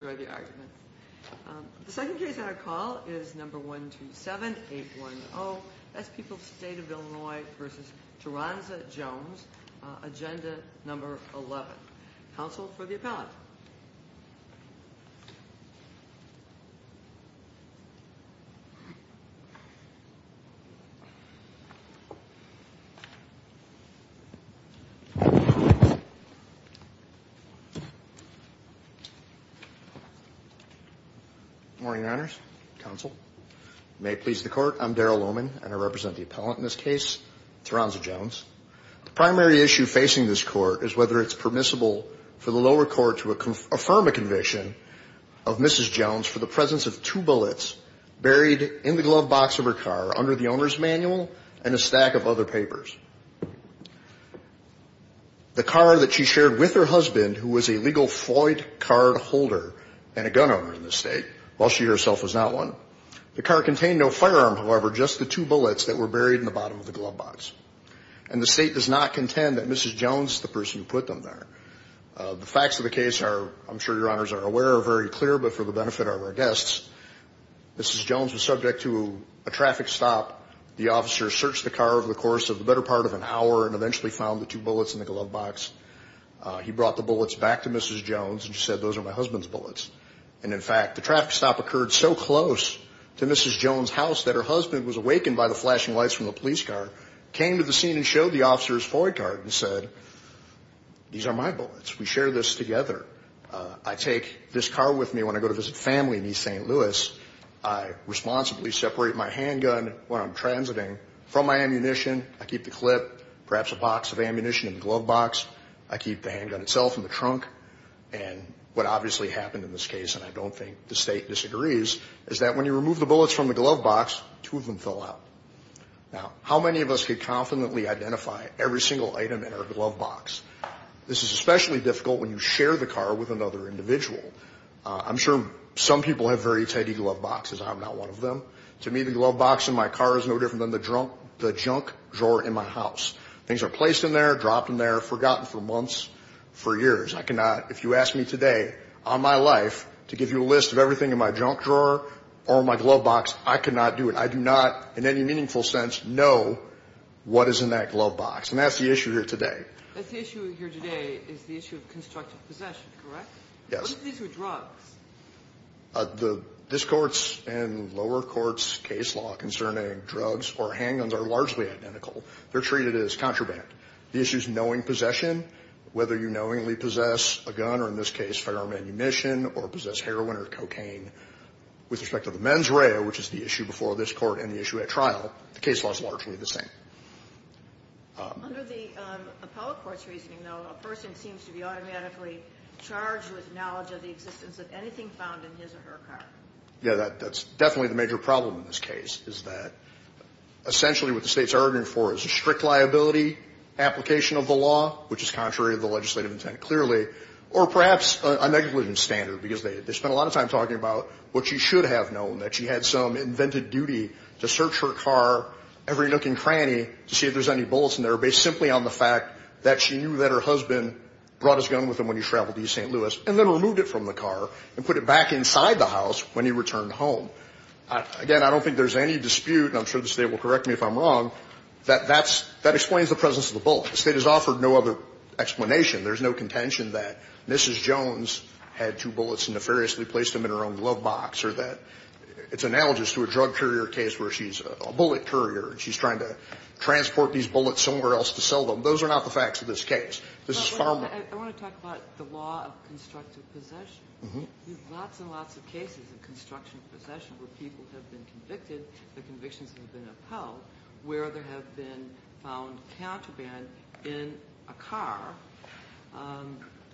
The second case on our call is number 127810. That's People's State of Illinois v. Teranza Jones. Agenda number 11. Counsel for the appellant. Good morning, Your Honors. Counsel. May it please the Court, I'm Darrell Lohman, and I represent the appellant in this case, Teranza Jones. The primary issue facing this Court is whether it's permissible for the lower court to affirm a conviction of Mrs. Jones for the presence of two bullets buried in the glove box of her car under the owner's manual and a stack of other papers. The car that she shared with her husband, who was a legal Floyd cardholder and a gun owner in this State, while she herself was not one, the car contained no firearm, however, just the two bullets that were buried in the bottom of the glove box. And the State does not contend that Mrs. Jones is the person who put them there. The facts of the case are, I'm sure Your Honors are aware, are very clear, but for the benefit of our guests, Mrs. Jones was subject to a traffic stop. The officer searched the car over the course of the better part of an hour and eventually found the two bullets in the glove box. He brought the bullets back to Mrs. Jones and said, those are my husband's bullets. And in fact, the traffic stop occurred so close to Mrs. Jones' house that her husband was awakened by the flashing lights from the police car, came to the scene and showed the officer his Floyd card and said, these are my bullets. We share this together. I take this car with me when I go to visit family in East St. Louis. I responsibly separate my handgun when I'm transiting from my ammunition. I keep the clip, perhaps a box of ammunition in the glove box. I keep the handgun itself in the trunk. And what obviously happened in this case, and I don't think the State disagrees, is that when you remove the bullets from the glove box, two of them fell out. Now, how many of us could confidently identify every single item in our glove box? This is especially difficult when you share the car with another individual. I'm sure some people have very tidy glove boxes. I'm not one of them. To me, the glove box in my car is no different than the junk drawer in my house. Things are placed in there, dropped in there, forgotten for months, for years. I cannot, if you ask me today, on my life, to give you a list of everything in my junk drawer or my glove box, I cannot do it. I do not in any meaningful sense know what is in that glove box. And that's the issue here today. That's the issue here today is the issue of constructive possession, correct? Yes. What if these were drugs? This Court's and lower courts' case law concerning drugs or handguns are largely identical. They're treated as contraband. The issue is knowing possession, whether you knowingly possess a gun or, in this case, firearm ammunition or possess heroin or cocaine. With respect to the mens rea, which is the issue before this Court and the issue at trial, the case law is largely the same. Under the appellate court's reasoning, though, a person seems to be automatically charged with knowledge of the existence of anything found in his or her car. Yes, that's definitely the major problem in this case, is that essentially what the States are arguing for is a strict liability application of the law, which is contrary to the legislative intent, clearly, or perhaps a negligence standard, because they spent a lot of time talking about what she should have known, that she had some invented duty to search her car every nook and cranny to see if there's any bullets in there, based simply on the fact that she knew that her husband brought his gun with him when he traveled to East St. Louis and then removed it from the car and put it back inside the house when he returned home. Again, I don't think there's any dispute, and I'm sure the State will correct me if I'm wrong, that that's – that explains the presence of the bullet. The State has offered no other explanation. There's no contention that Mrs. Jones had two bullets and nefariously placed them in her own glove box, or that it's analogous to a drug courier case where she's a bullet courier, and she's trying to transport these bullets somewhere else to sell them. Those are not the facts of this case. This is far more – I want to talk about the law of constructive possession. There's lots and lots of cases of constructive possession where people have been convicted, the convictions have been upheld, where there have been found counterband in a car.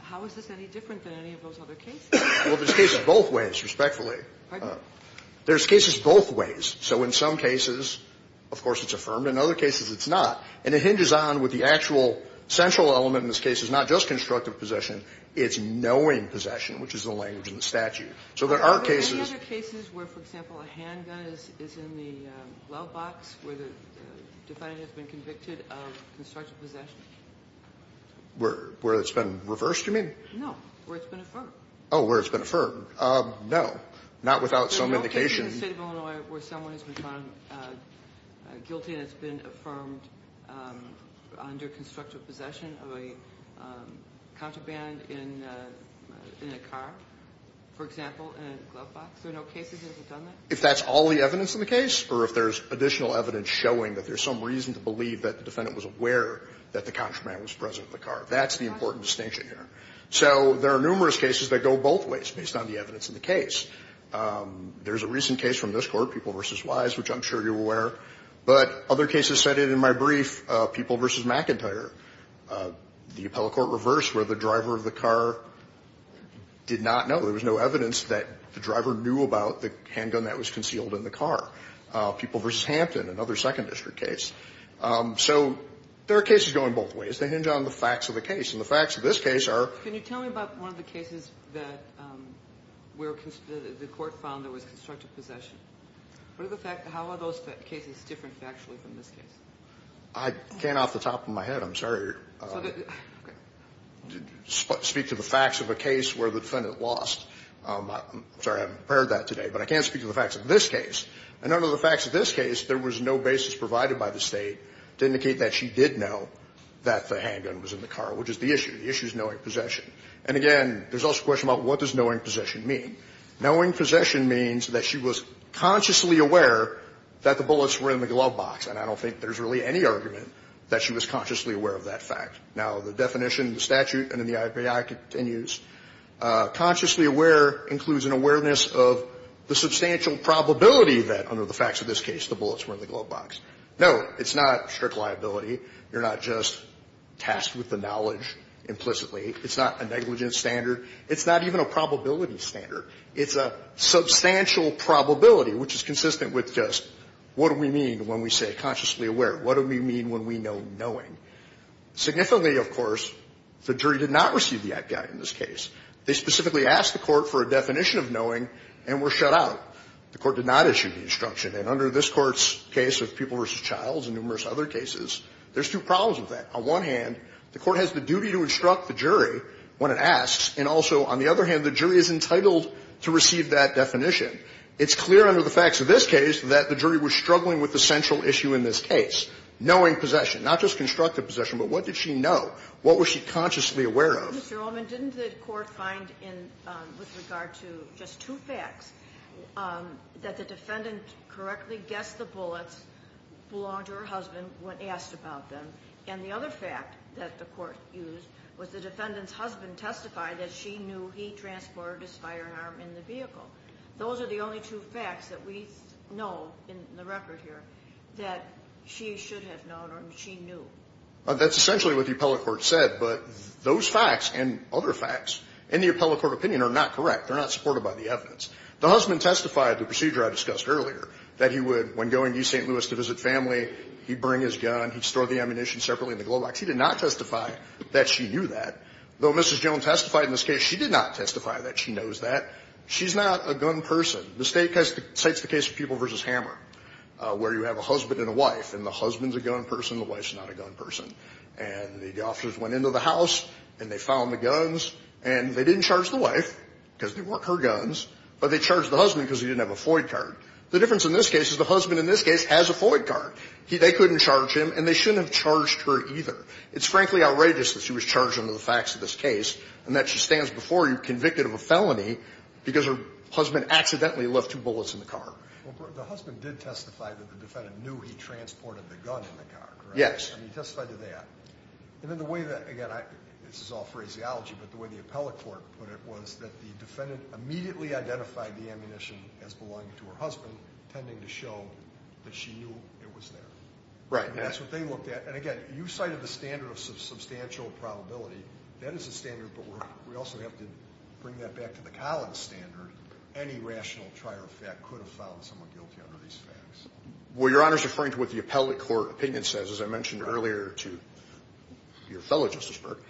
How is this any different than any of those other cases? Well, there's cases both ways, respectfully. Pardon? There's cases both ways. So in some cases, of course, it's affirmed. In other cases, it's not. And it hinges on with the actual central element in this case. It's not just constructive possession. It's knowing possession, which is the language in the statute. So there are cases – Are there any other cases where, for example, a handgun is in the glove box where the defendant has been convicted of constructive possession? Where it's been reversed, you mean? No. Where it's been affirmed. Oh, where it's been affirmed. No. Not without some indication. In the State of Illinois, where someone has been found guilty and it's been affirmed under constructive possession of a contraband in a car, for example, in a glove box, there are no cases that have done that? If that's all the evidence in the case or if there's additional evidence showing that there's some reason to believe that the defendant was aware that the contraband was present in the car. That's the important distinction here. So there are numerous cases that go both ways based on the evidence in the case. There's a recent case from this Court, People v. Wise, which I'm sure you're aware. But other cases cited in my brief, People v. McIntyre, the appellate court reverse where the driver of the car did not know. There was no evidence that the driver knew about the handgun that was concealed in the car. People v. Hampton, another Second District case. So there are cases going both ways. They hinge on the facts of the case. And the facts of this case are – The court found there was constructive possession. How are those cases different factually from this case? I can't off the top of my head, I'm sorry, speak to the facts of a case where the defendant lost. I'm sorry, I haven't prepared that today. But I can speak to the facts of this case. And under the facts of this case, there was no basis provided by the State to indicate that she did know that the handgun was in the car, which is the issue. The issue is knowing possession. And, again, there's also a question about what does knowing possession mean? Knowing possession means that she was consciously aware that the bullets were in the glove box, and I don't think there's really any argument that she was consciously aware of that fact. Now, the definition in the statute and in the IPI continues. Consciously aware includes an awareness of the substantial probability that, under the facts of this case, the bullets were in the glove box. Note, it's not strict liability. You're not just tasked with the knowledge implicitly. It's not a negligence standard. It's not even a probability standard. It's a substantial probability, which is consistent with just what do we mean when we say consciously aware? What do we mean when we know knowing? Significantly, of course, the jury did not receive the IPI in this case. They specifically asked the Court for a definition of knowing and were shut out. The Court did not issue the instruction. And under this Court's case of People v. Childs and numerous other cases, there's two problems with that. On one hand, the Court has the duty to instruct the jury when it asks. And also, on the other hand, the jury is entitled to receive that definition. It's clear under the facts of this case that the jury was struggling with the central issue in this case, knowing possession. Not just constructive possession, but what did she know? What was she consciously aware of? Mr. Ullman, didn't the Court find in, with regard to just two facts, that the defendant correctly guessed the bullets belonged to her husband when asked about them? And the other fact that the Court used was the defendant's husband testified that she knew he transported his firearm in the vehicle. Those are the only two facts that we know in the record here that she should have known or she knew. That's essentially what the appellate court said. But those facts and other facts in the appellate court opinion are not correct. They're not supported by the evidence. The husband testified, the procedure I discussed earlier, that he would, when going to St. Louis to visit family, he'd bring his gun. He'd store the ammunition separately in the glove box. He did not testify that she knew that. Though Mrs. Jones testified in this case, she did not testify that she knows that. She's not a gun person. The State cites the case of Pupil v. Hammer, where you have a husband and a wife, and the husband's a gun person, the wife's not a gun person. And the officers went into the house, and they found the guns, and they didn't charge the wife because they weren't her guns, but they charged the husband because he didn't have a FOID card. The difference in this case is the husband in this case has a FOID card. They couldn't charge him, and they shouldn't have charged her either. It's frankly outrageous that she was charged under the facts of this case and that she stands before you convicted of a felony because her husband accidentally left two bullets in the car. The husband did testify that the defendant knew he transported the gun in the car, correct? Yes. And he testified to that. And then the way that, again, this is all phraseology, but the way the appellate court put it was that the defendant immediately identified the ammunition as belonging to her husband, tending to show that she knew it was there. Right. And that's what they looked at. And, again, you cited the standard of substantial probability. That is a standard, but we also have to bring that back to the Collins standard. Any rational trier of fact could have found someone guilty under these facts. Well, Your Honor is referring to what the appellate court opinion says, as I mentioned earlier to your fellow, Justice Burke.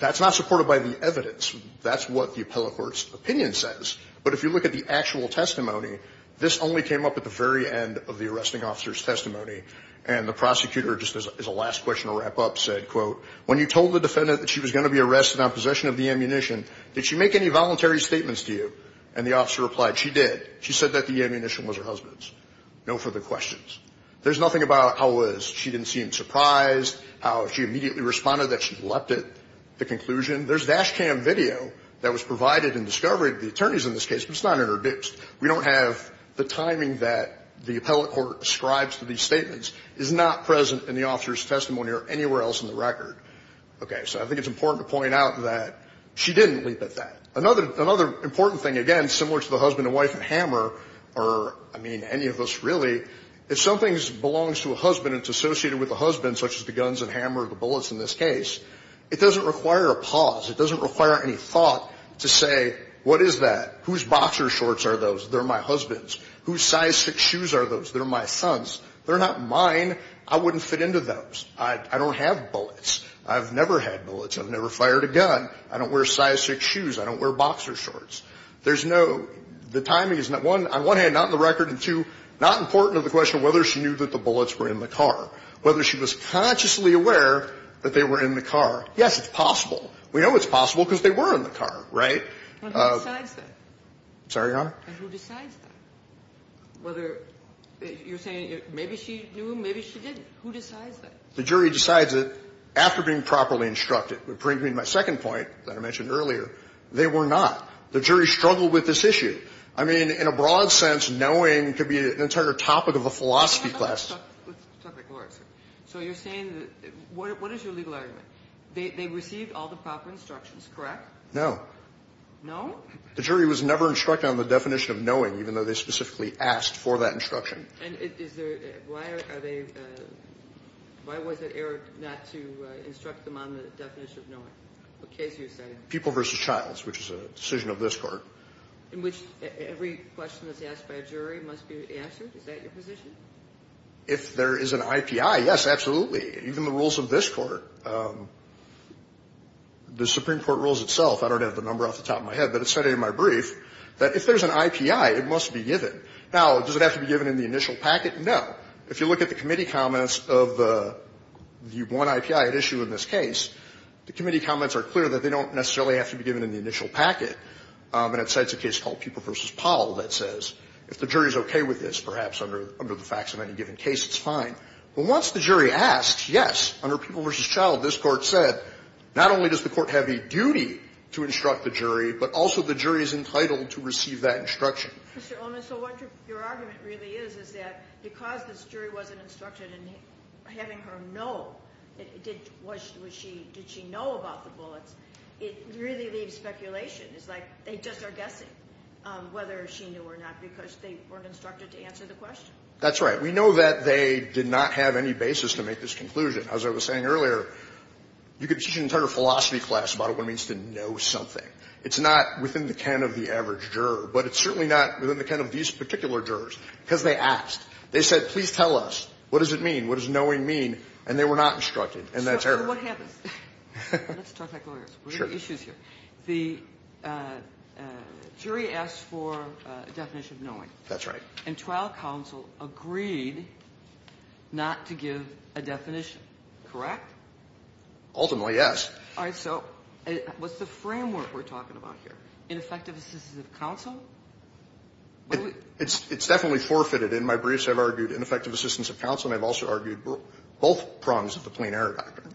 That's not supported by the evidence. That's what the appellate court's opinion says. But if you look at the actual testimony, this only came up at the very end of the arresting officer's testimony. And the prosecutor, just as a last question to wrap up, said, quote, when you told the defendant that she was going to be arrested on possession of the ammunition, did she make any voluntary statements to you? And the officer replied, she did. She said that the ammunition was her husband's. No further questions. There's nothing about how it was. She didn't seem surprised, how she immediately responded that she'd leapt at the conclusion. There's dash cam video that was provided in discovery to the attorneys in this case, but it's not in her boots. We don't have the timing that the appellate court ascribes to these statements is not present in the officer's testimony or anywhere else in the record. Okay. So I think it's important to point out that she didn't leap at that. Another important thing, again, similar to the husband and wife in Hammer or, I mean, any of us really, if something belongs to a husband and it's associated with a husband, such as the guns in Hammer or the bullets in this case, it doesn't require a pause. It doesn't require any thought to say, what is that? Whose boxer shorts are those? They're my husband's. Whose size 6 shoes are those? They're my son's. They're not mine. I wouldn't fit into those. I don't have bullets. I've never had bullets. I've never fired a gun. I don't wear size 6 shoes. I don't wear boxer shorts. There's no – the timing is not, on one hand, not in the record, and, two, not important that the bullets were in the car. Whether she was consciously aware that they were in the car, yes, it's possible. We know it's possible because they were in the car, right? And who decides that? I'm sorry, Your Honor? And who decides that? Whether – you're saying maybe she knew, maybe she didn't. Who decides that? The jury decides it after being properly instructed. It brings me to my second point that I mentioned earlier. They were not. The jury struggled with this issue. I mean, in a broad sense, knowing could be an entire topic of a philosophy class. Let's talk about court, sir. So you're saying – what is your legal argument? They received all the proper instructions, correct? No. No? The jury was never instructed on the definition of knowing, even though they specifically asked for that instruction. And is there – why are they – why was it errored not to instruct them on the definition of knowing? What case are you citing? People v. Childs, which is a decision of this court. In which every question that's asked by a jury must be answered? Is that your position? If there is an IPI, yes, absolutely. Even the rules of this court. The Supreme Court rules itself – I don't have the number off the top of my head, but it's cited in my brief – that if there's an IPI, it must be given. Now, does it have to be given in the initial packet? No. If you look at the committee comments of the one IPI at issue in this case, the committee comments are clear that they don't necessarily have to be given in the initial packet. And it cites a case called People v. Powell that says, if the jury is okay with this, perhaps under the facts of any given case, it's fine. But once the jury asked, yes, under People v. Child, this court said, not only does the court have a duty to instruct the jury, but also the jury is entitled to receive that instruction. So what your argument really is, is that because this jury wasn't instructed in having her know, did she know about the bullets, it really leaves speculation. It's like they just are guessing whether she knew or not because they weren't instructed to answer the question. That's right. We know that they did not have any basis to make this conclusion. As I was saying earlier, you could teach an entire philosophy class about what it means to know something. It's not within the ken of the average juror, but it's certainly not within the ken of these particular jurors because they asked. They said, please tell us. What does it mean? What does knowing mean? And they were not instructed. And that's error. So what happens? Let's talk like lawyers. Sure. The jury asked for a definition of knowing. That's right. And trial counsel agreed not to give a definition, correct? Ultimately, yes. All right. So what's the framework we're talking about here? Ineffective assistance of counsel? It's definitely forfeited. In my briefs, I've argued ineffective assistance of counsel, and I've also argued both prongs of the plain error doctrine.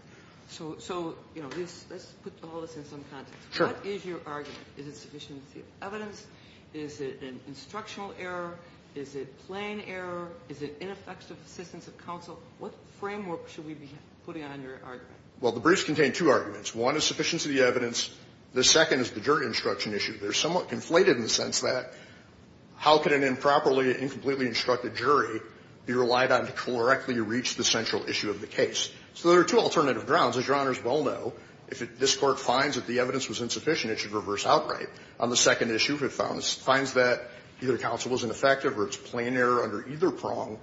So, you know, let's put all this in some context. Sure. What is your argument? Is it sufficiency of evidence? Is it an instructional error? Is it plain error? Is it ineffective assistance of counsel? What framework should we be putting on your argument? Well, the briefs contain two arguments. One is sufficiency of the evidence. The second is the jury instruction issue. They're somewhat conflated in the sense that how can an improperly, incompletely instructed jury be relied on to correctly reach the central issue of the case? So there are two alternative grounds. As Your Honors well know, if this Court finds that the evidence was insufficient, it should reverse outright. On the second issue, if it finds that either counsel was ineffective or it's plain error under either prong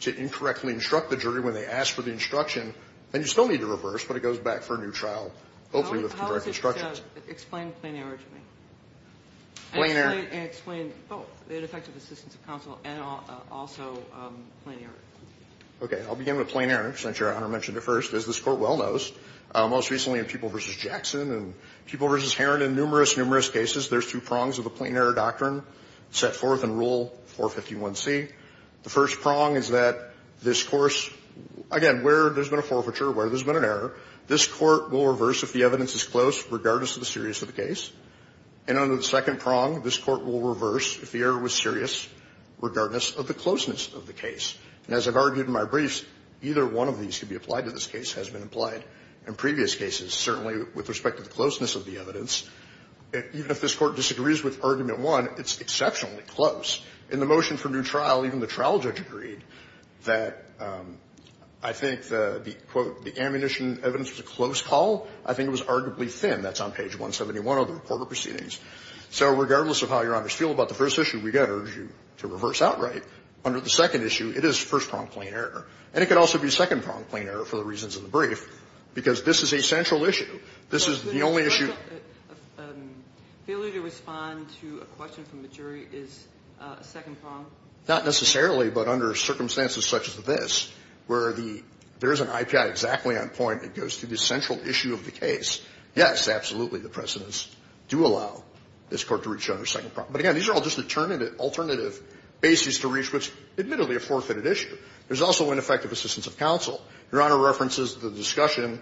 to incorrectly instruct the jury when they ask for the instruction, then you still need to reverse, but it goes back for a new trial, hopefully with the correct instructions. Explain plain error to me. Plain error. Explain both, ineffective Assistance of Counsel and also plain error. Okay. I'll begin with plain error, since Your Honor mentioned it first. As this Court well knows, most recently in Pupil v. Jackson and Pupil v. Herron, in numerous, numerous cases, there's two prongs of the plain error doctrine set forth in Rule 451c. The first prong is that this course, again, where there's been a forfeiture, where there's been an error, this Court will reverse if the evidence is close, regardless of the seriousness of the case. And under the second prong, this Court will reverse if the error was serious, regardless of the closeness of the case. And as I've argued in my briefs, either one of these can be applied to this case, has been applied in previous cases, certainly with respect to the closeness of the evidence. Even if this Court disagrees with argument one, it's exceptionally close. In the motion for new trial, even the trial judge agreed that I think the, quote, the ammunition evidence was a close call. I think it was arguably thin. That's on page 171 of the recorded proceedings. So regardless of how Your Honors feel about the first issue, we can urge you to reverse outright. Under the second issue, it is first prong plain error. And it could also be second prong plain error for the reasons of the brief, because this is a central issue. This is the only issue. Kagan. Failure to respond to a question from the jury is a second prong? Not necessarily, but under circumstances such as this, where there is an IPI exactly on point that goes to the central issue of the case, yes, absolutely, the precedents do allow this Court to reach under second prong. But again, these are all just alternative bases to reach, which is admittedly a forfeited issue. There is also ineffective assistance of counsel. Your Honor references the discussion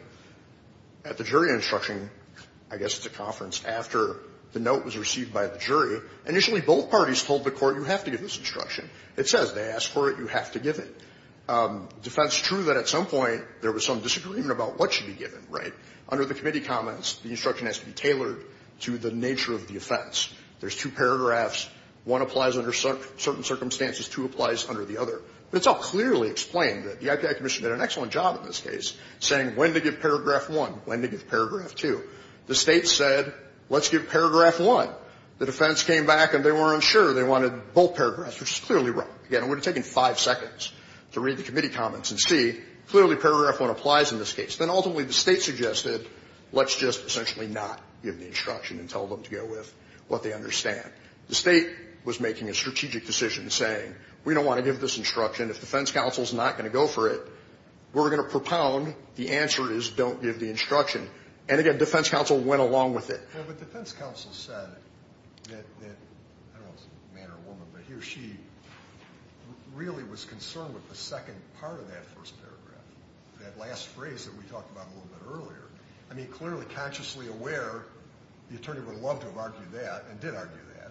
at the jury instruction, I guess it's a conference, after the note was received by the jury. Initially, both parties told the Court, you have to give this instruction. It says they asked for it, you have to give it. The defense is true that at some point there was some disagreement about what should be given, right? Under the committee comments, the instruction has to be tailored to the nature of the offense. There's two paragraphs. One applies under certain circumstances, two applies under the other. But it's all clearly explained that the IPI commission did an excellent job in this case, saying when to give paragraph 1, when to give paragraph 2. The State said let's give paragraph 1. The defense came back and they weren't sure. They wanted both paragraphs, which is clearly wrong. Again, it would have taken five seconds to read the committee comments and see clearly paragraph 1 applies in this case. Then ultimately the State suggested let's just essentially not give the instruction and tell them to go with what they understand. The State was making a strategic decision saying we don't want to give this instruction. If defense counsel is not going to go for it, we're going to propound. The answer is don't give the instruction. And again, defense counsel went along with it. But defense counsel said that, I don't know if it's a man or a woman, but he or she really was concerned with the second part of that first paragraph, that last phrase that we talked about a little bit earlier. I mean, clearly, consciously aware, the attorney would have loved to have argued that and did argue that,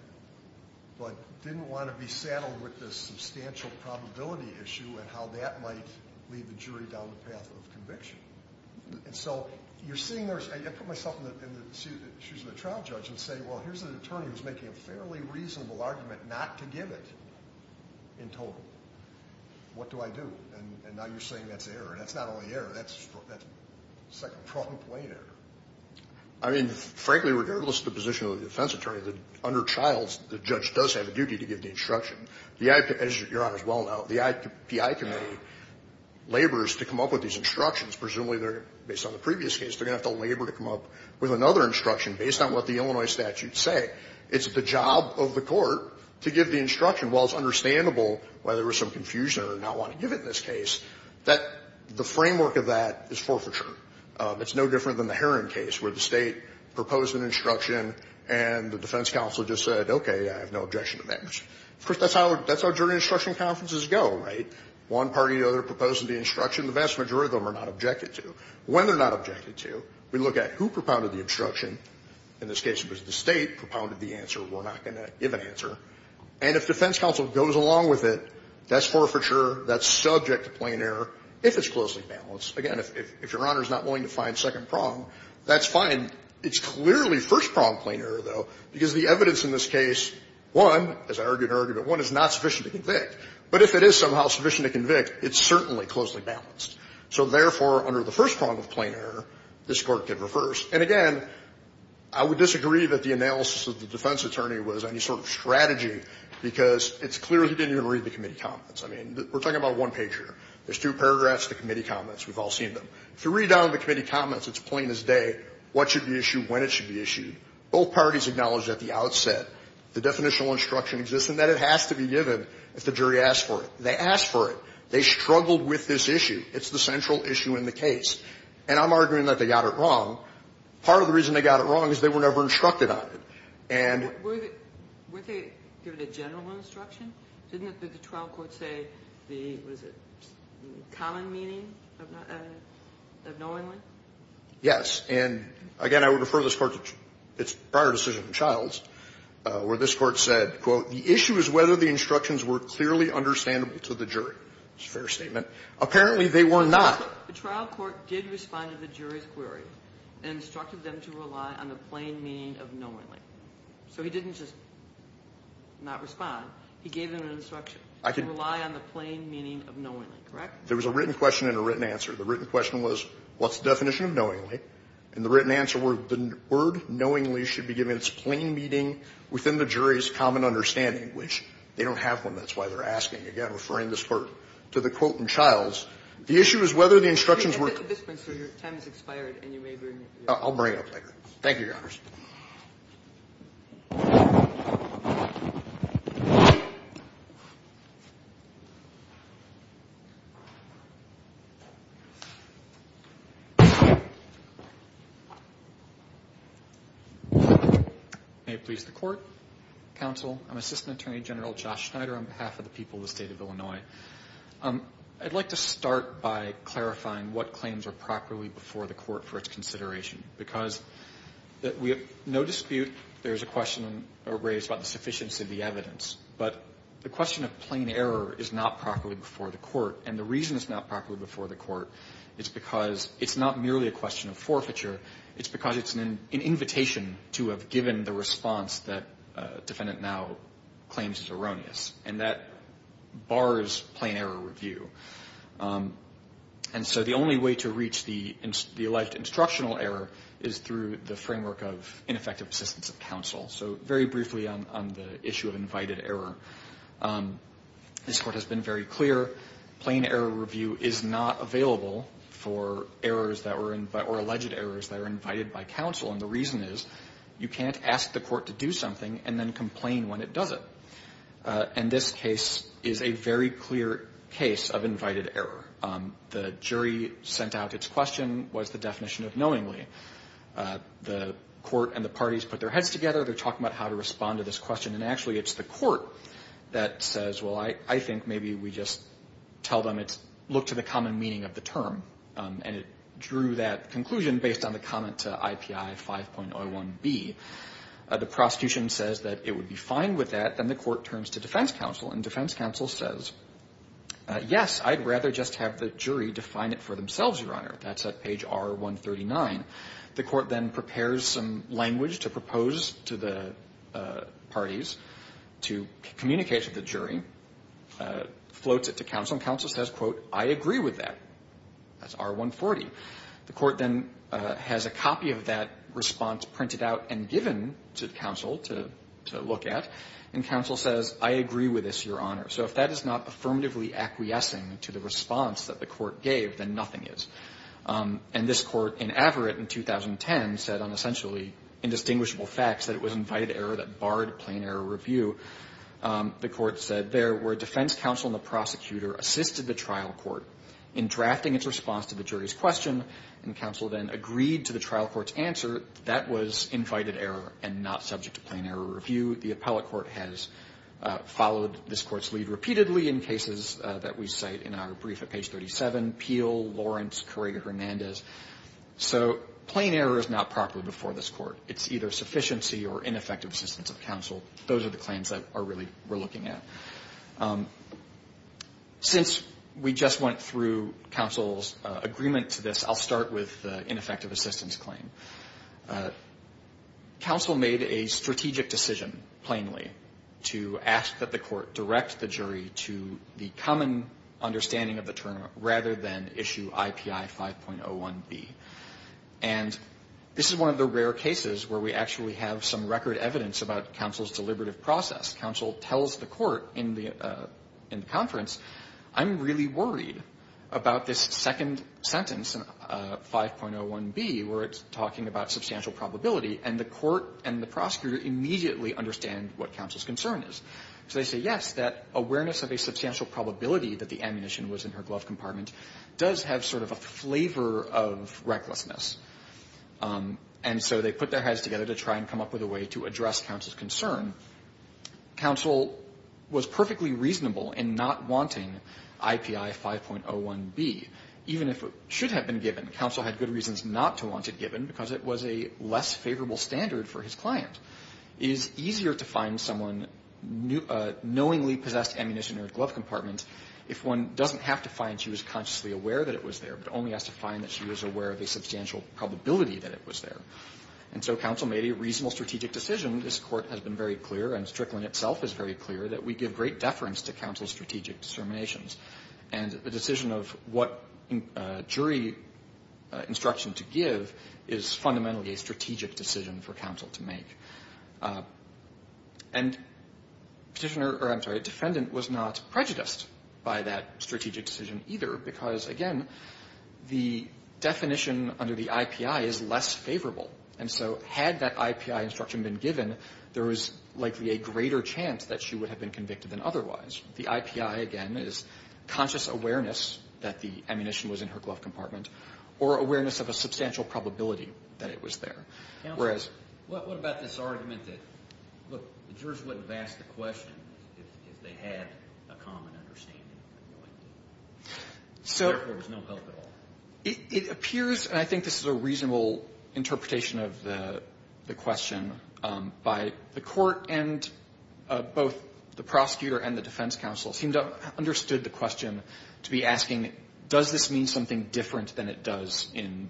but didn't want to be saddled with this substantial probability issue and how that might lead the jury down the path of conviction. And so you're seeing there's – I put myself in the shoes of the trial judge and say, well, here's an attorney who's making a fairly reasonable argument not to give it in total. What do I do? And now you're saying that's error. And that's not only error. That's second-pronged blame error. I mean, frankly, regardless of the position of the defense attorney, under Childs, the judge does have a duty to give the instruction. The IP – as Your Honor's well known, the IPI committee labors to come up with these instructions. Presumably, they're – based on the previous case, they're going to have to labor to come up with another instruction based on what the Illinois statutes say. It's the job of the court to give the instruction. While it's understandable why there was some confusion or not wanting to give it in this case, that – the framework of that is forfeiture. It's no different than the Heron case where the State proposed an instruction and the defense counsel just said, okay, I have no objection to that instruction. Of course, that's how – that's how jury instruction conferences go, right? One party or the other proposes the instruction. The vast majority of them are not objected to. When they're not objected to, we look at who propounded the instruction. In this case, it was the State propounded the answer. We're not going to give an answer. And if defense counsel goes along with it, that's forfeiture. That's subject to plain error if it's closely balanced. Again, if Your Honor is not willing to find second prong, that's fine. It's clearly first prong plain error, though, because the evidence in this case, one, as I argue in argument one, is not sufficient to convict. But if it is somehow sufficient to convict, it's certainly closely balanced. So therefore, under the first prong of plain error, this Court can reverse. And again, I would disagree that the analysis of the defense attorney was any sort of strategy, because it's clear he didn't even read the committee comments. I mean, we're talking about one page here. There's two paragraphs, the committee comments. We've all seen them. If you read down the committee comments, it's plain as day what should be issued, when it should be issued. Both parties acknowledged at the outset the definitional instruction exists, and that it has to be given if the jury asked for it. They asked for it. They struggled with this issue. It's the central issue in the case. And I'm arguing that they got it wrong. Part of the reason they got it wrong is they were never instructed on it. And were they given a general instruction? Didn't the trial court say the, what is it, common meaning of knowingly? Yes. And again, I would refer this Court to its prior decision in Childs, where this Court said, quote, The issue is whether the instructions were clearly understandable to the jury. It's a fair statement. Apparently, they were not. The trial court did respond to the jury's query and instructed them to rely on the plain meaning of knowingly. So he didn't just not respond. He gave them an instruction to rely on the plain meaning of knowingly. Correct? There was a written question and a written answer. The written question was, what's the definition of knowingly? And the written answer was, the word knowingly should be given its plain meaning within the jury's common understanding, which they don't have one. That's why they're asking. Again, referring this Court to the quote in Childs. The issue is whether the instructions were clear. I'll bring it up later. Thank you, Your Honors. May it please the Court. Counsel. I'm Assistant Attorney General Josh Schneider on behalf of the people of the State of Illinois. I'd like to start by clarifying what claims are properly before the Court for its consideration. and we have a lot of evidence, We have no dispute. There is a question raised about the sufficiency of the evidence. But the question of plain error is not properly before the Court. And the reason it's not properly before the Court is because it's not merely a question of forfeiture. It's because it's an invitation to have given the response that defendant now claims is erroneous. And that bars plain error review. And so the only way to reach the alleged instructional error is through the framework of ineffective assistance of counsel. So very briefly on the issue of invited error. This Court has been very clear. Plain error review is not available for errors or alleged errors that are invited by counsel. And the reason is you can't ask the Court to do something and then complain when it doesn't. And this case is a very clear case of invited error. The jury sent out its question. What is the definition of knowingly? The Court and the parties put their heads together. They're talking about how to respond to this question. And actually, it's the Court that says, well, I think maybe we just tell them it's look to the common meaning of the term. And it drew that conclusion based on the comment to IPI 5.01B. The prosecution says that it would be fine with that. Then the Court turns to defense counsel. And defense counsel says, yes, I'd rather just have the jury define it for themselves, Your Honor. That's at page R139. The Court then prepares some language to propose to the parties to communicate to the jury, floats it to counsel. And counsel says, quote, I agree with that. That's R140. The Court then has a copy of that response printed out and given to counsel to look at. And counsel says, I agree with this, Your Honor. So if that is not affirmatively acquiescing to the response that the Court gave, then nothing is. And this Court in Averitt in 2010 said on essentially indistinguishable facts that it was invited error that barred plain error review. The Court said there where defense counsel and the prosecutor assisted the trial court in drafting its response to the jury's question, and counsel then agreed to the trial court's answer, that was invited error and not subject to plain error review. The appellate court has followed this Court's lead repeatedly in cases that we cite in our brief at page 37, Peel, Lawrence, Correga-Hernandez. So plain error is not properly before this Court. It's either sufficiency or ineffective assistance of counsel. Those are the claims that are really we're looking at. Since we just went through counsel's agreement to this, I'll start with the ineffective assistance claim. Counsel made a strategic decision, plainly, to ask that the Court direct the jury to the common understanding of the term rather than issue IPI 5.01B. And this is one of the rare cases where we actually have some record evidence about counsel's deliberative process. Counsel tells the Court in the conference, I'm really worried about this second sentence, 5.01B, where it's talking about substantial probability. And the Court and the prosecutor immediately understand what counsel's concern is. So they say, yes, that awareness of a substantial probability that the ammunition was in her glove compartment does have sort of a flavor of recklessness. And so they put their heads together to try and come up with a way to address counsel's concern. Counsel was perfectly reasonable in not wanting IPI 5.01B, even if it should have been given. Counsel had good reasons not to want it given because it was a less favorable standard for his client. It is easier to find someone knowingly possessed ammunition in her glove compartment if one doesn't have to find she was consciously aware that it was there, but only has to find that she was aware of the substantial probability that it was there. And so counsel made a reasonable strategic decision. This Court has been very clear, and Strickland itself is very clear, that we give great deference to counsel's strategic determinations. And Petitioner or, I'm sorry, Defendant was not prejudiced by that strategic decision either because, again, the definition under the IPI is less favorable. And so had that IPI instruction been given, there was likely a greater chance that she would have been convicted than otherwise. The IPI, again, is conscious awareness that the ammunition was in her glove compartment or awareness of a substantial probability that it was there. Counsel, what about this argument that, look, the jurors wouldn't have asked the question if they had a common understanding of the guilty? So there was no hope at all. It appears, and I think this is a reasonable interpretation of the question, by the Court and both the prosecutor and the defense counsel seemed to have understood the question to be asking, does this mean something different than it does in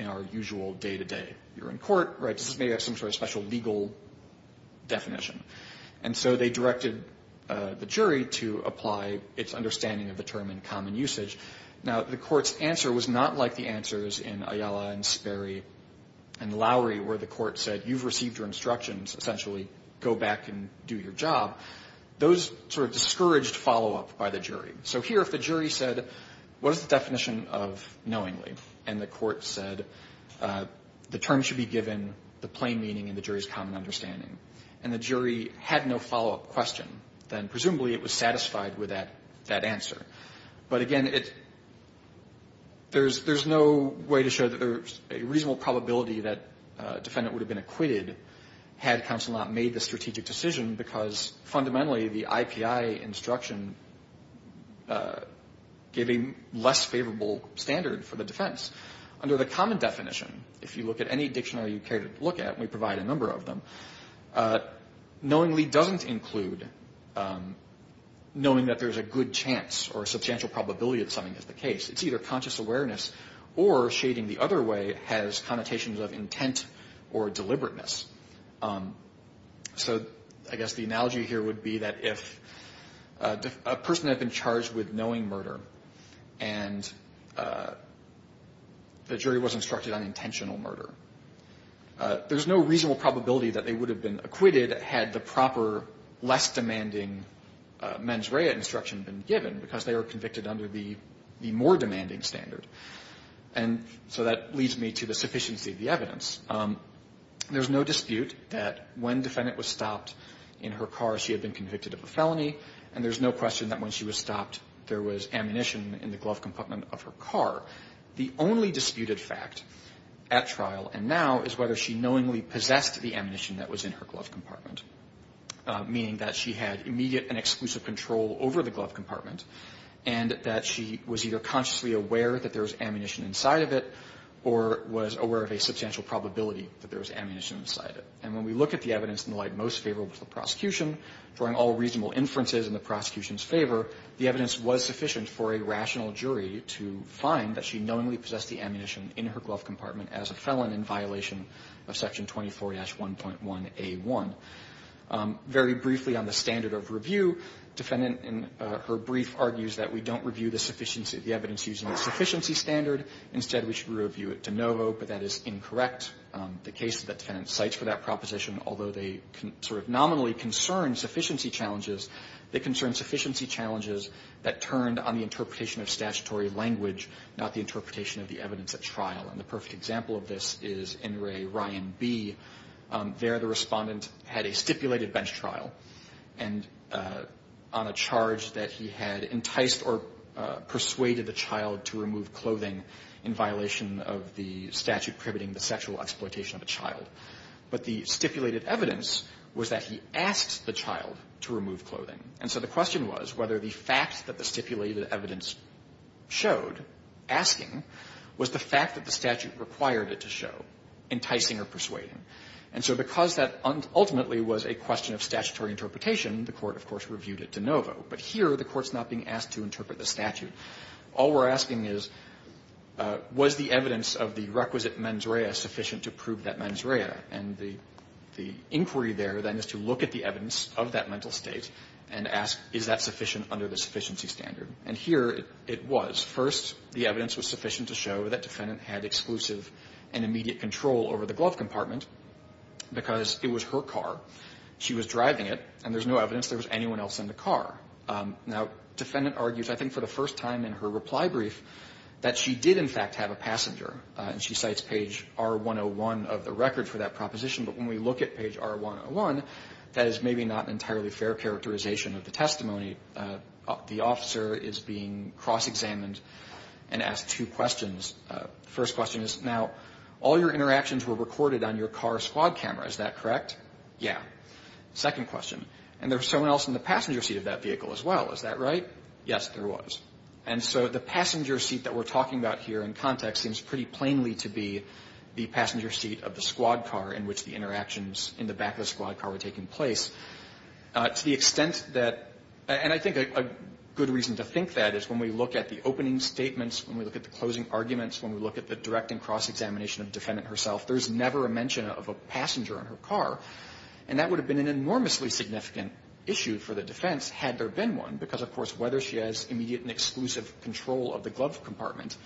our usual day-to-day you're in court, right? Does this mean you have some sort of special legal definition? And so they directed the jury to apply its understanding of the term in common usage. Now, the Court's answer was not like the answers in Ayala and Sperry and Lowry, where the Court said, you've received your instructions. Essentially, go back and do your job. Those sort of discouraged follow-up by the jury. So here, if the jury said, what is the definition of knowingly? And the Court said, the term should be given the plain meaning in the jury's common understanding. And the jury had no follow-up question. Then presumably it was satisfied with that answer. But again, there's no way to show that there's a reasonable probability that a defendant would have been acquitted had counsel not made the strategic decision because fundamentally the IPI instruction gave a less favorable standard for the defense. Under the common definition, if you look at any dictionary you care to look at, and we provide a number of them, knowingly doesn't include knowing that there's a good chance or a substantial probability that something is the case. It's either conscious awareness or shading the other way has connotations of intent or deliberateness. So I guess the analogy here would be that if a person had been charged with knowing murder and the jury was instructed on intentional murder, there's no reasonable probability that they would have been acquitted had the proper less demanding mens rea instruction been given because they were convicted under the more demanding standard. And so that leads me to the sufficiency of the evidence. There's no dispute that when defendant was stopped in her car, she had been convicted of a felony. And there's no question that when she was stopped, there was ammunition in the glove compartment of her car. The only disputed fact at trial and now is whether she knowingly possessed the ammunition that was in her glove compartment, meaning that she had immediate and exclusive control over the glove compartment and that she was either consciously aware that there was ammunition inside of it or was aware of a substantial probability that there was ammunition inside of it. In the case of the defendant's proposition, drawing all reasonable inferences in the prosecution's favor, the evidence was sufficient for a rational jury to find that she knowingly possessed the ammunition in her glove compartment as a felon in violation of Section 24-1.1a1. Very briefly on the standard of review, defendant in her brief argues that we don't review the sufficiency of the evidence using the sufficiency standard. Instead, we should review it de novo, but that is incorrect. The case that the defendant cites for that proposition, although they sort of nominally concern sufficiency challenges, they concern sufficiency challenges that turned on the interpretation of statutory language, not the interpretation of the evidence at trial. And the perfect example of this is in Ray Ryan B. There, the Respondent had a stipulated bench trial and on a charge that he had enticed or persuaded the child to remove clothing in violation of the statute prohibiting the sexual exploitation of a child. But the stipulated evidence was that he asked the child to remove clothing. And so the question was whether the fact that the stipulated evidence showed, asking, was the fact that the statute required it to show, enticing or persuading. And so because that ultimately was a question of statutory interpretation, the Court, of course, reviewed it de novo. But here, the Court's not being asked to interpret the statute. All we're asking is, was the evidence of the requisite mens rea sufficient to prove that mens rea? And the inquiry there, then, is to look at the evidence of that mental state and ask, is that sufficient under the sufficiency standard? And here it was. First, the evidence was sufficient to show that Defendant had exclusive and immediate control over the glove compartment because it was her car. She was driving it, and there's no evidence there was anyone else in the car. Now, Defendant argues, I think for the first time in her reply brief, that she did, in fact, have a passenger. And she cites page R101 of the record for that proposition. But when we look at page R101, that is maybe not an entirely fair characterization of the testimony. The officer is being cross-examined and asked two questions. The first question is, now, all your interactions were recorded on your car squad camera, is that correct? Yeah. Second question, and there was someone else in the passenger seat of that vehicle as well, is that right? Yes, there was. And so the passenger seat that we're talking about here in context seems pretty plainly to be the passenger seat of the squad car in which the interactions in the back of the squad car were taking place. To the extent that – and I think a good reason to think that is when we look at the opening statements, when we look at the closing arguments, when we look at the direct and cross-examination of Defendant herself, there's never a mention of a passenger in her car. And that would have been an enormously significant issue for the defense had there been one, because, of course, whether she has immediate and exclusive control of the glove compartment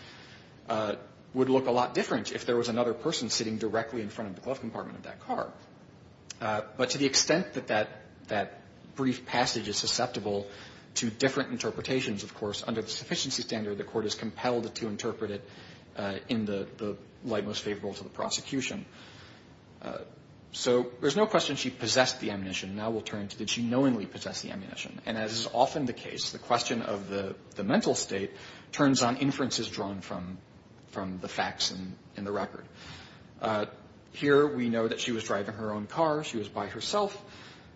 would look a lot different if there was another person sitting directly in front of the glove compartment of that car. But to the extent that that brief passage is susceptible to different interpretations, of course, under the sufficiency standard, the Court is compelled to interpret it in the light most favorable to the prosecution. So there's no question she possessed the ammunition. Now we'll turn to did she knowingly possess the ammunition. And as is often the case, the question of the mental state turns on inferences drawn from the facts in the record. Here we know that she was driving her own car. She was by herself.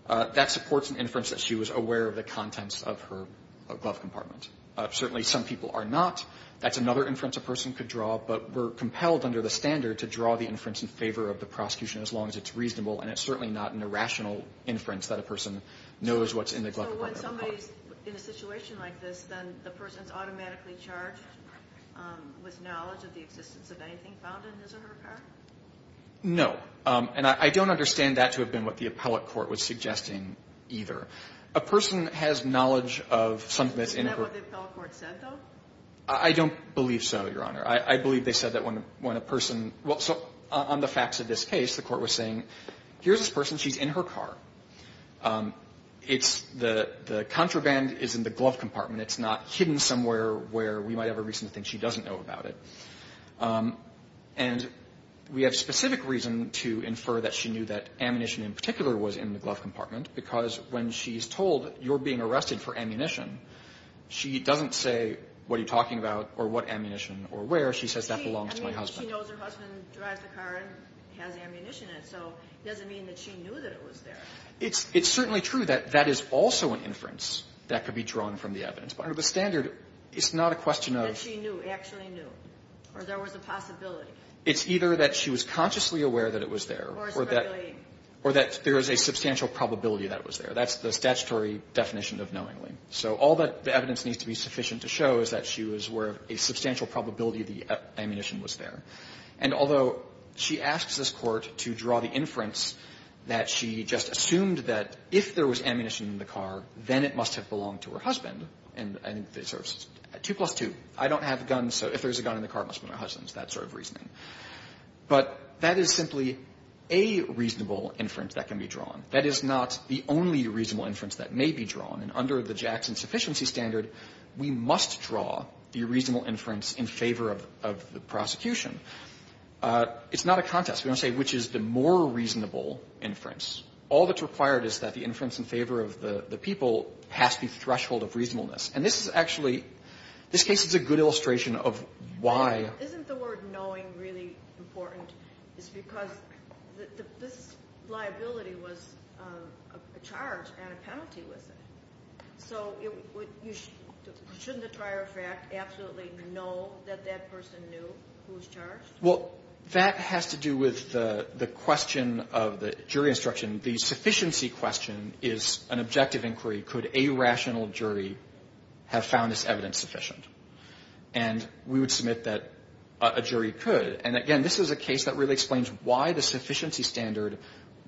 That supports an inference that she was aware of the contents of her glove compartment. Certainly some people are not. That's another inference a person could draw. But we're compelled under the standard to draw the inference in favor of the prosecution as long as it's reasonable. And it's certainly not an irrational inference that a person knows what's in the glove compartment of a car. So when somebody's in a situation like this, then the person's automatically charged with knowledge of the existence of anything found in his or her car? No. And I don't understand that to have been what the appellate court was suggesting either. A person has knowledge of something that's in her car. Isn't that what the appellate court said, though? I don't believe so, Your Honor. I believe they said that when a person – well, so on the facts of this case, the fact is here's this person. She's in her car. It's – the contraband is in the glove compartment. It's not hidden somewhere where we might have a reason to think she doesn't know about it. And we have specific reason to infer that she knew that ammunition in particular was in the glove compartment because when she's told you're being arrested for ammunition, she doesn't say what are you talking about or what ammunition or where. She says that belongs to my husband. She knows her husband drives the car and has ammunition in it. So it doesn't mean that she knew that it was there. It's – it's certainly true that that is also an inference that could be drawn from the evidence. But under the standard, it's not a question of – That she knew, actually knew, or there was a possibility. It's either that she was consciously aware that it was there or that – Or it's really – Or that there is a substantial probability that it was there. That's the statutory definition of knowingly. So all that the evidence needs to be sufficient to show is that she was aware of a substantial probability the ammunition was there. And although she asks this Court to draw the inference that she just assumed that if there was ammunition in the car, then it must have belonged to her husband and I think they sort of – 2 plus 2. I don't have a gun, so if there's a gun in the car, it must be my husband's, that sort of reasoning. But that is simply a reasonable inference that can be drawn. That is not the only reasonable inference that may be drawn. And under the Jackson sufficiency standard, we must draw the reasonable inference in favor of the prosecution. It's not a contest. We don't say which is the more reasonable inference. All that's required is that the inference in favor of the people has to be threshold of reasonableness. And this is actually – this case is a good illustration of why – Isn't the word knowing really important? It's because this liability was a charge and a penalty with it. So shouldn't the trier of fact absolutely know that that person knew who was charged? Well, that has to do with the question of the jury instruction. The sufficiency question is an objective inquiry. Could a rational jury have found this evidence sufficient? And we would submit that a jury could. And, again, this is a case that really explains why the sufficiency standard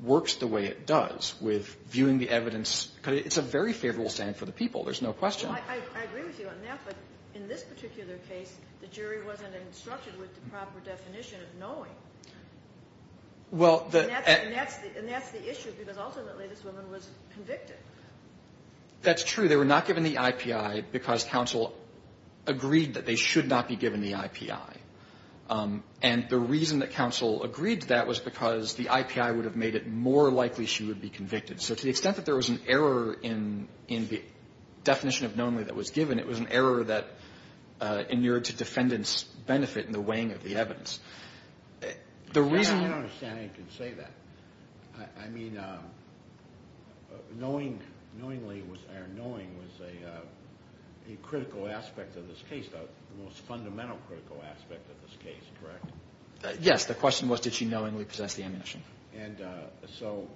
works the way it does with viewing the evidence. It's a very favorable standard for the people. There's no question. I agree with you on that. But in this particular case, the jury wasn't instructed with the proper definition of knowing. Well, the – And that's the issue, because ultimately this woman was convicted. That's true. They were not given the IPI because counsel agreed that they should not be given the IPI. And the reason that counsel agreed to that was because the IPI would have made it more likely she would be convicted. So to the extent that there was an error in the definition of knowingly that was given, it was an error that inured to defendant's benefit in the weighing of the evidence. The reason – I don't understand how you can say that. I mean, knowingly or knowingly was a critical aspect of this case, the most fundamental critical aspect of this case, correct? Yes. The question was did she knowingly possess the ammunition. And so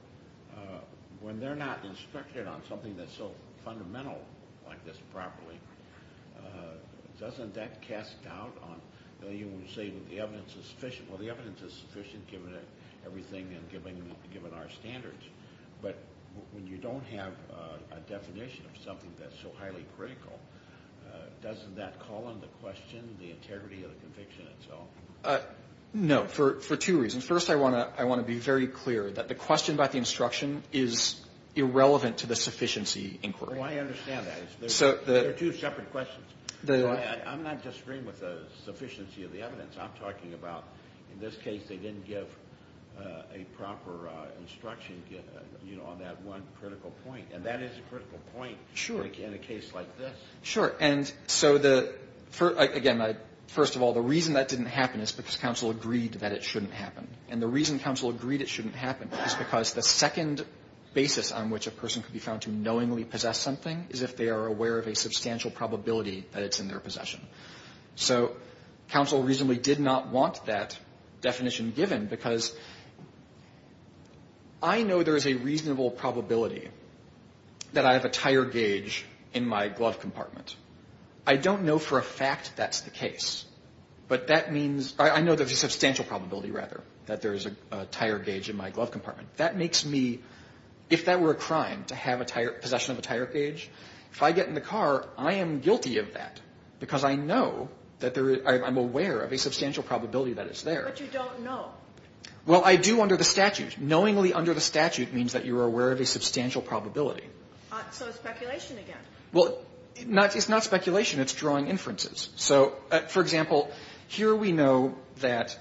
when they're not instructed on something that's so fundamental like this properly, doesn't that cast doubt on – you say the evidence is sufficient. Well, the evidence is sufficient given everything and given our standards. But when you don't have a definition of something that's so highly critical, doesn't that call into question the integrity of the conviction itself? No, for two reasons. First, I want to be very clear that the question about the instruction is irrelevant to the sufficiency inquiry. Oh, I understand that. There are two separate questions. I'm not disagreeing with the sufficiency of the evidence. I'm talking about in this case they didn't give a proper instruction on that one critical point. And that is a critical point in a case like this. Sure. And so the – again, first of all, the reason that didn't happen is because – and the reason counsel agreed it shouldn't happen is because the second basis on which a person could be found to knowingly possess something is if they are aware of a substantial probability that it's in their possession. So counsel reasonably did not want that definition given because I know there is a reasonable probability that I have a tire gauge in my glove compartment. I don't know for a fact that's the case, but that means – I know there's a substantial probability, rather, that there is a tire gauge in my glove compartment. That makes me – if that were a crime to have a tire – possession of a tire gauge, if I get in the car, I am guilty of that because I know that there – I'm aware of a substantial probability that it's there. But you don't know. Well, I do under the statute. Knowingly under the statute means that you are aware of a substantial probability. So it's speculation again. Well, it's not speculation. It's drawing inferences. So, for example, here we know that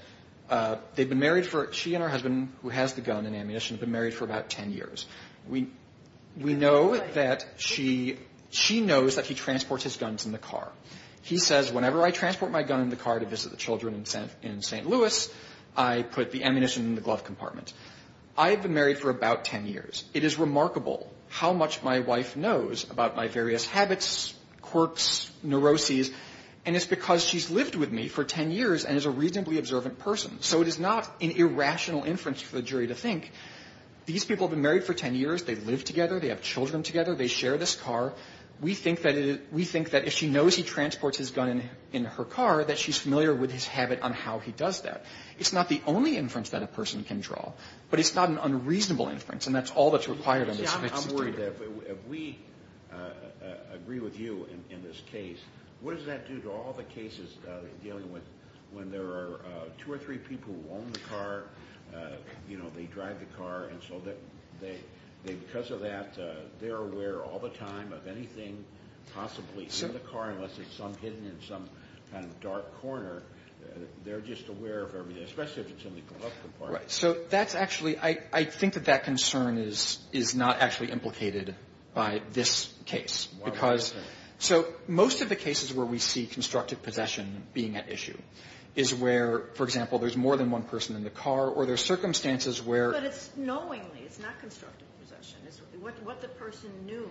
they've been married for – she and her husband, who has the gun and ammunition, have been married for about 10 years. We know that she – she knows that he transports his guns in the car. He says, whenever I transport my gun in the car to visit the children in St. Louis, I put the ammunition in the glove compartment. I have been married for about 10 years. It is remarkable how much my wife knows about my various habits, quirks, neuroses, and it's because she's lived with me for 10 years and is a reasonably observant person. So it is not an irrational inference for the jury to think, these people have been married for 10 years, they live together, they have children together, they share this car. We think that it – we think that if she knows he transports his gun in her car, that she's familiar with his habit on how he does that. It's not the only inference that a person can draw, but it's not an unreasonable inference, and that's all that's required in this case. I'm worried that if we agree with you in this case, what does that do to all the cases they're dealing with when there are two or three people who own the car, you know, they drive the car, and so they – because of that, they're aware all the time of anything possibly in the car unless it's some hidden in some kind of dark corner. They're just aware of everything, especially if it's in the glove compartment. Right. So that's actually – I think that that concern is not actually implicated by this case, because – so most of the cases where we see constructive possession being at issue is where, for example, there's more than one person in the car, or there's circumstances where – But it's knowingly. It's not constructive possession. It's what the person knew.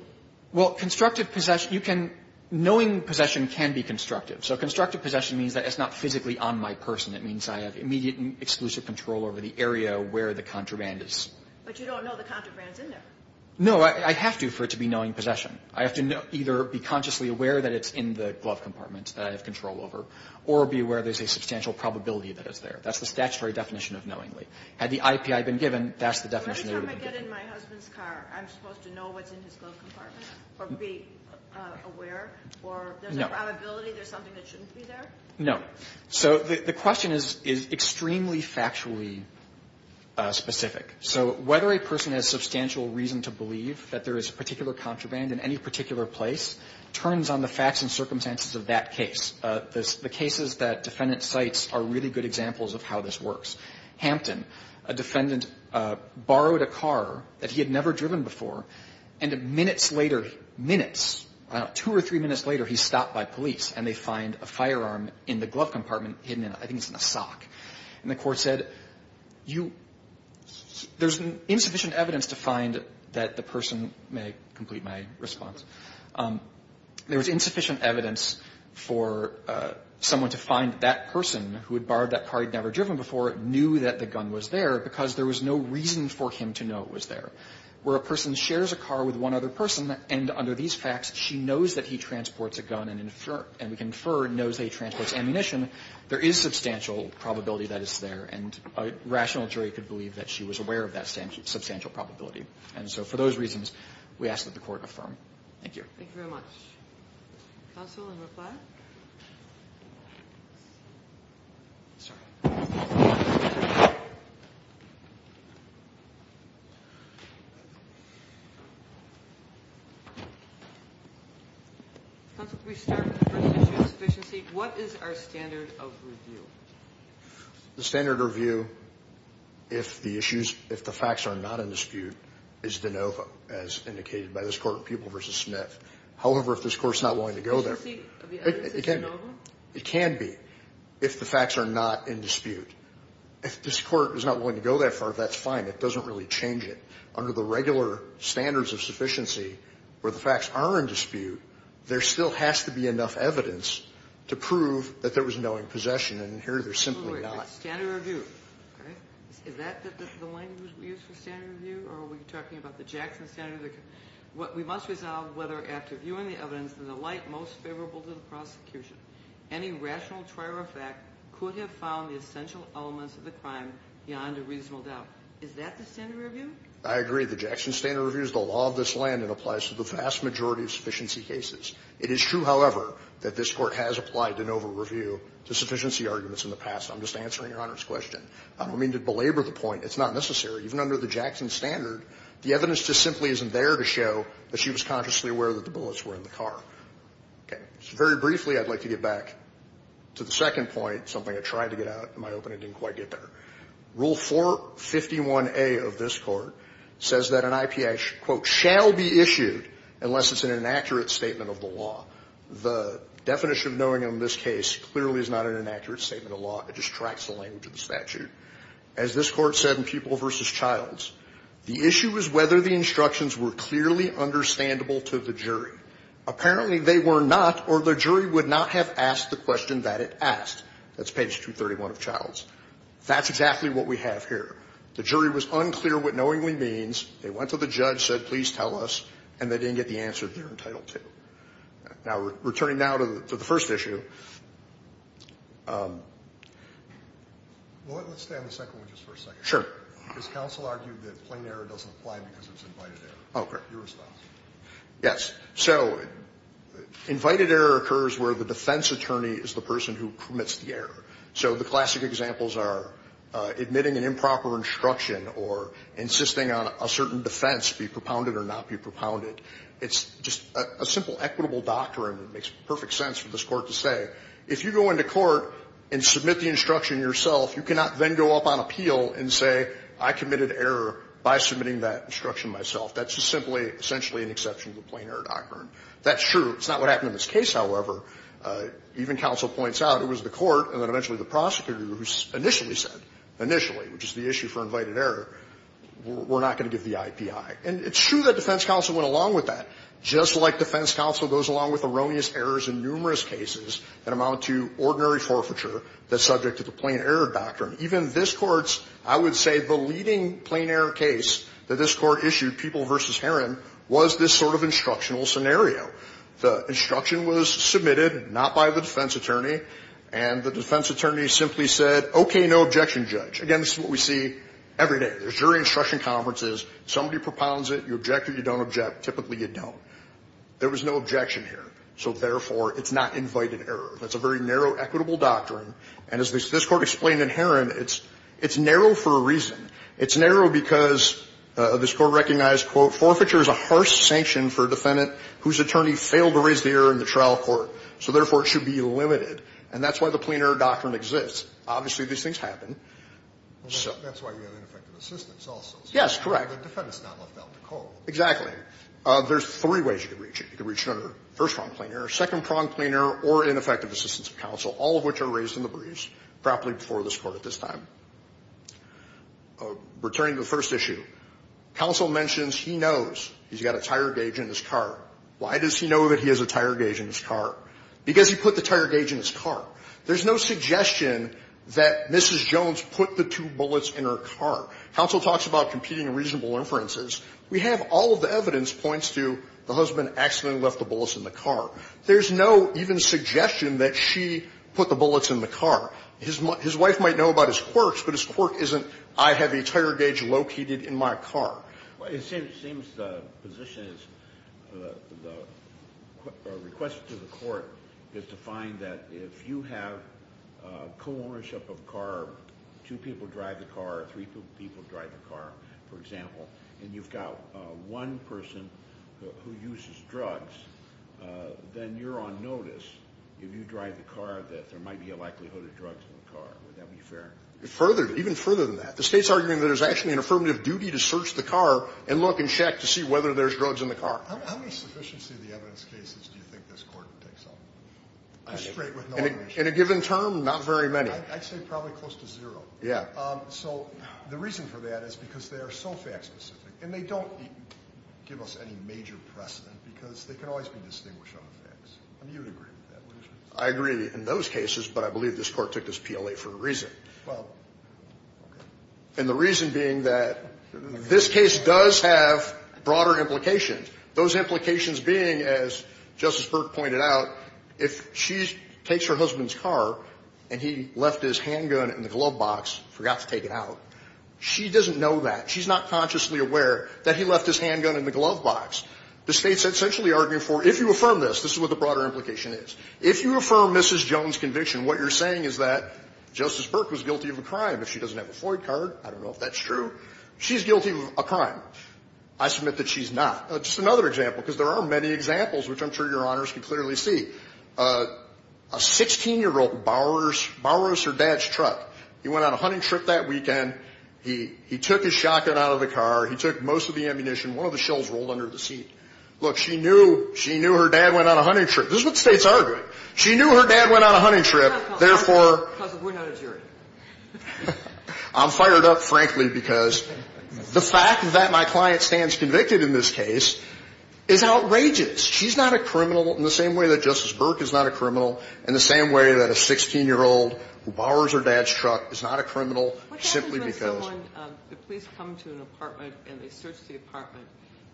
Well, constructive possession – you can – knowing possession can be constructive. So constructive possession means that it's not physically on my person. It means I have immediate and exclusive control over the area where the contraband is. But you don't know the contraband's in there. No. I have to for it to be knowing possession. I have to either be consciously aware that it's in the glove compartment that I have control over, or be aware there's a substantial probability that it's there. That's the statutory definition of knowingly. Had the IPI been given, that's the definition it would be given. Every time I get in my husband's car, I'm supposed to know what's in his glove compartment, or be aware, or there's a probability there's something that shouldn't be there? No. So the question is extremely factually specific. So whether a person has substantial reason to believe that there is a particular contraband in any particular place turns on the facts and circumstances of that case. The cases that defendant cites are really good examples of how this works. Hampton, a defendant borrowed a car that he had never driven before, and minutes later – minutes – two or three minutes later, he's stopped by police, and they find a firearm in the glove compartment hidden in – I think it's in a sock. And the court said, you – there's insufficient evidence to find that the person may complete my response. There was insufficient evidence for someone to find that person, who had borrowed that car he'd never driven before, knew that the gun was there because there was no reason for him to know it was there. Where a person shares a car with one other person, and under these facts, she knows that he transports a gun and we confer knows that he transports ammunition, there is substantial probability that it's there. And a rational jury could believe that she was aware of that substantial probability. And so for those reasons, we ask that the Court affirm. Thank you. Thank you very much. Counsel in reply? Counsel, before we start with the first issue of sufficiency, what is our standard of review? The standard review, if the issues – if the facts are not in dispute, is de novo, as indicated by this Court in Pupil v. Smith. However, if this Court's not willing to go there – It can be, if the facts are not in dispute. If this Court is not willing to go that far, that's fine. It doesn't really change it. Under the regular standards of sufficiency, where the facts are in dispute, there still has to be enough evidence to prove that there was knowing possession. And here, there's simply not. Standard review. Is that the language we use for standard review? Or are we talking about the Jackson standard? We must resolve whether, after viewing the evidence in the light most favorable to the prosecution, any rational trial or fact could have found the essential elements of the crime beyond a reasonable doubt. Is that the standard review? I agree. The Jackson standard review is the law of this land and applies to the vast majority of sufficiency cases. It is true, however, that this Court has applied de novo review to sufficiency arguments in the past. I'm just answering Your Honor's question. I don't mean to belabor the point. It's not necessary. Even under the Jackson standard, the evidence just simply isn't there to show that she was consciously aware that the bullets were in the car. Okay. Very briefly, I'd like to get back to the second point, something I tried to get out in my opening and didn't quite get there. Rule 451A of this Court says that an IPA quote shall be issued unless it's an inaccurate statement of the law. The definition of knowing in this case clearly is not an inaccurate statement of the law. It just tracks the language of the statute. As this Court said in Pupil v. Childs, the issue is whether the instructions were clearly understandable to the jury. Apparently they were not or the jury would not have asked the question that it asked. That's page 231 of Childs. That's exactly what we have here. The jury was unclear what knowingly means. They went to the judge, said, please tell us, and they didn't get the answer they were entitled to. Now, returning now to the first issue. Well, let's stay on the second one just for a second. Sure. This counsel argued that plain error doesn't apply because it's invited error. Oh, correct. Your response. Yes. So invited error occurs where the defense attorney is the person who permits the error. So the classic examples are admitting an improper instruction or insisting on a certain defense be propounded or not be propounded. It's just a simple equitable doctrine. It makes perfect sense for this Court to say, if you go into court and submit the instruction yourself, you cannot then go up on appeal and say, I committed error by submitting that instruction myself. That's just simply essentially an exception to the plain error doctrine. That's true. It's not what happened in this case, however. Even counsel points out it was the court and then eventually the prosecutor who initially said, initially, which is the issue for invited error, we're not going to give the IPI. And it's true that defense counsel went along with that, just like defense counsel goes along with erroneous errors in numerous cases that amount to ordinary forfeiture that's subject to the plain error doctrine. Even this Court's, I would say, the leading plain error case that this Court issued, People v. Herron, was this sort of instructional scenario. The instruction was submitted not by the defense attorney, and the defense attorney simply said, okay, no objection, Judge. Again, this is what we see every day. There's jury instruction conferences. Somebody propounds it. You object or you don't object. Typically, you don't. There was no objection here. So therefore, it's not invited error. That's a very narrow equitable doctrine. And as this Court explained in Herron, it's narrow for a reason. It's narrow because this Court recognized, quote, forfeiture is a harsh sanction for a defendant whose attorney failed to raise the error in the trial court. So therefore, it should be limited. And that's why the plain error doctrine exists. Obviously, these things happen. So that's why we have ineffective assistance also. Yes, correct. The defendant's not left out in the cold. Exactly. There's three ways you can reach it. You can reach it under first-prong plain error, second-prong plain error, or ineffective assistance of counsel, all of which are raised in the briefs, probably before this Court at this time. Returning to the first issue, counsel mentions he knows he's got a tire gauge in his car. Why does he know that he has a tire gauge in his car? Because he put the tire gauge in his car. There's no suggestion that Mrs. Jones put the two bullets in her car. Counsel talks about competing and reasonable inferences. We have all of the evidence points to the husband accidentally left the bullets in the car. There's no even suggestion that she put the bullets in the car. His wife might know about his quirks, but his quirk isn't, I have a tire gauge located in my car. Well, it seems the position is, the request to the court is to find that if you have co-ownership of a car, two people drive the car, three people drive the car, for example, and you've got one person who uses drugs, then you're on notice, if you drive the car, that there might be a likelihood of drugs in the car. Would that be fair? Further, even further than that, the State's arguing that it's actually an affirmative duty to search the car and look and check to see whether there's drugs in the car. How much sufficiency of the evidence cases do you think this Court takes on? In a given term, not very many. I'd say probably close to zero. Yeah. So the reason for that is because they are so fact-specific, and they don't give us any major precedent, because they can always be distinguished on the facts. I mean, you would agree with that, wouldn't you? I agree in those cases, but I believe this Court took this PLA for a reason. Well, okay. And the reason being that this case does have broader implications, those implications being, as Justice Burke pointed out, if she takes her husband's car and he left his handgun in the glove box, forgot to take it out, she doesn't know that. She's not consciously aware that he left his handgun in the glove box. The State's essentially arguing for, if you affirm this, this is what the broader implication is, if you affirm Mrs. Jones' conviction, what you're saying is that Justice Burke was guilty of a crime. If she doesn't have a Floyd card, I don't know if that's true. She's guilty of a crime. I submit that she's not. Just another example, because there are many examples, which I'm sure Your Honors can clearly see. A 16-year-old borrows her dad's truck. He went on a hunting trip that weekend. He took his shotgun out of the car. He took most of the ammunition. One of the shells rolled under the seat. Look, she knew her dad went on a hunting trip. This is what the State's arguing. She knew her dad went on a hunting trip. Therefore, I'm fired up, frankly, because the fact that my client stands convicted in this case is outrageous. She's not a criminal in the same way that Justice Burke is not a criminal, in the same way that a 16-year-old who borrows her dad's truck is not a criminal, simply because. What happens when someone, the police come to an apartment and they search the apartment,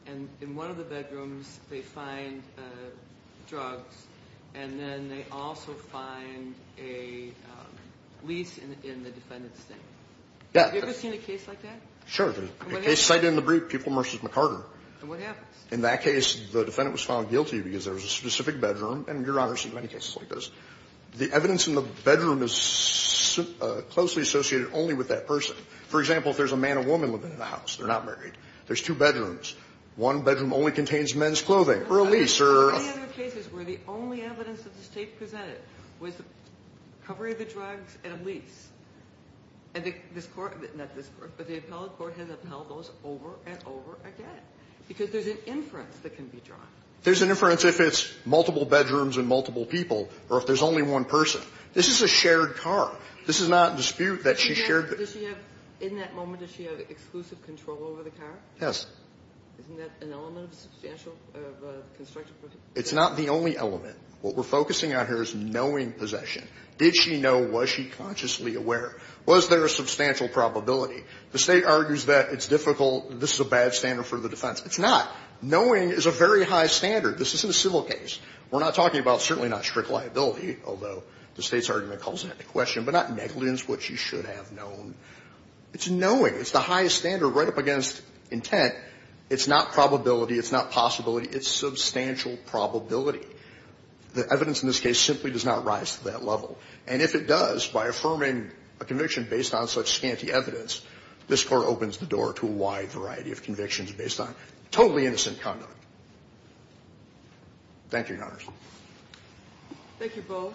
and in one of the bedrooms they find drugs, and then they also find a lease in the defendant's name? Yeah. Have you ever seen a case like that? Sure. A case cited in the brief, Pupil v. McCarter. And what happens? In that case, the defendant was found guilty because there was a specific bedroom. And, Your Honor, I've seen many cases like this. The evidence in the bedroom is closely associated only with that person. For example, if there's a man and woman living in the house, they're not married. There's two bedrooms. One bedroom only contains men's clothing or a lease or a ---- How many other cases were the only evidence that the State presented was the covering of the drugs and a lease? And this Court, not this Court, but the appellate court has upheld those over and over again. Because there's an inference that can be drawn. There's an inference if it's multiple bedrooms and multiple people or if there's only one person. This is a shared car. This is not in dispute that she shared the ---- In that moment, does she have exclusive control over the car? Yes. Isn't that an element of substantial construction? It's not the only element. What we're focusing on here is knowing possession. Did she know? Was she consciously aware? Was there a substantial probability? The State argues that it's difficult. This is a bad standard for the defense. It's not. Knowing is a very high standard. This isn't a civil case. We're not talking about certainly not strict liability, although the State's argument calls into question, but not negligence, what she should have known. It's knowing. It's the highest standard right up against intent. It's not probability. It's not possibility. It's substantial probability. The evidence in this case simply does not rise to that level. And if it does, by affirming a conviction based on such scanty evidence, this Court opens the door to a wide variety of convictions based on totally innocent conduct. Thank you, Your Honors. Thank you both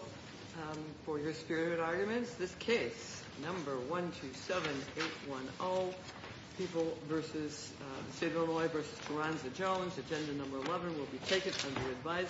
for your spirited arguments. This case, number 127810, People v. Savoy v. Carranza-Jones. Agenda number 11 will be taken under advisory.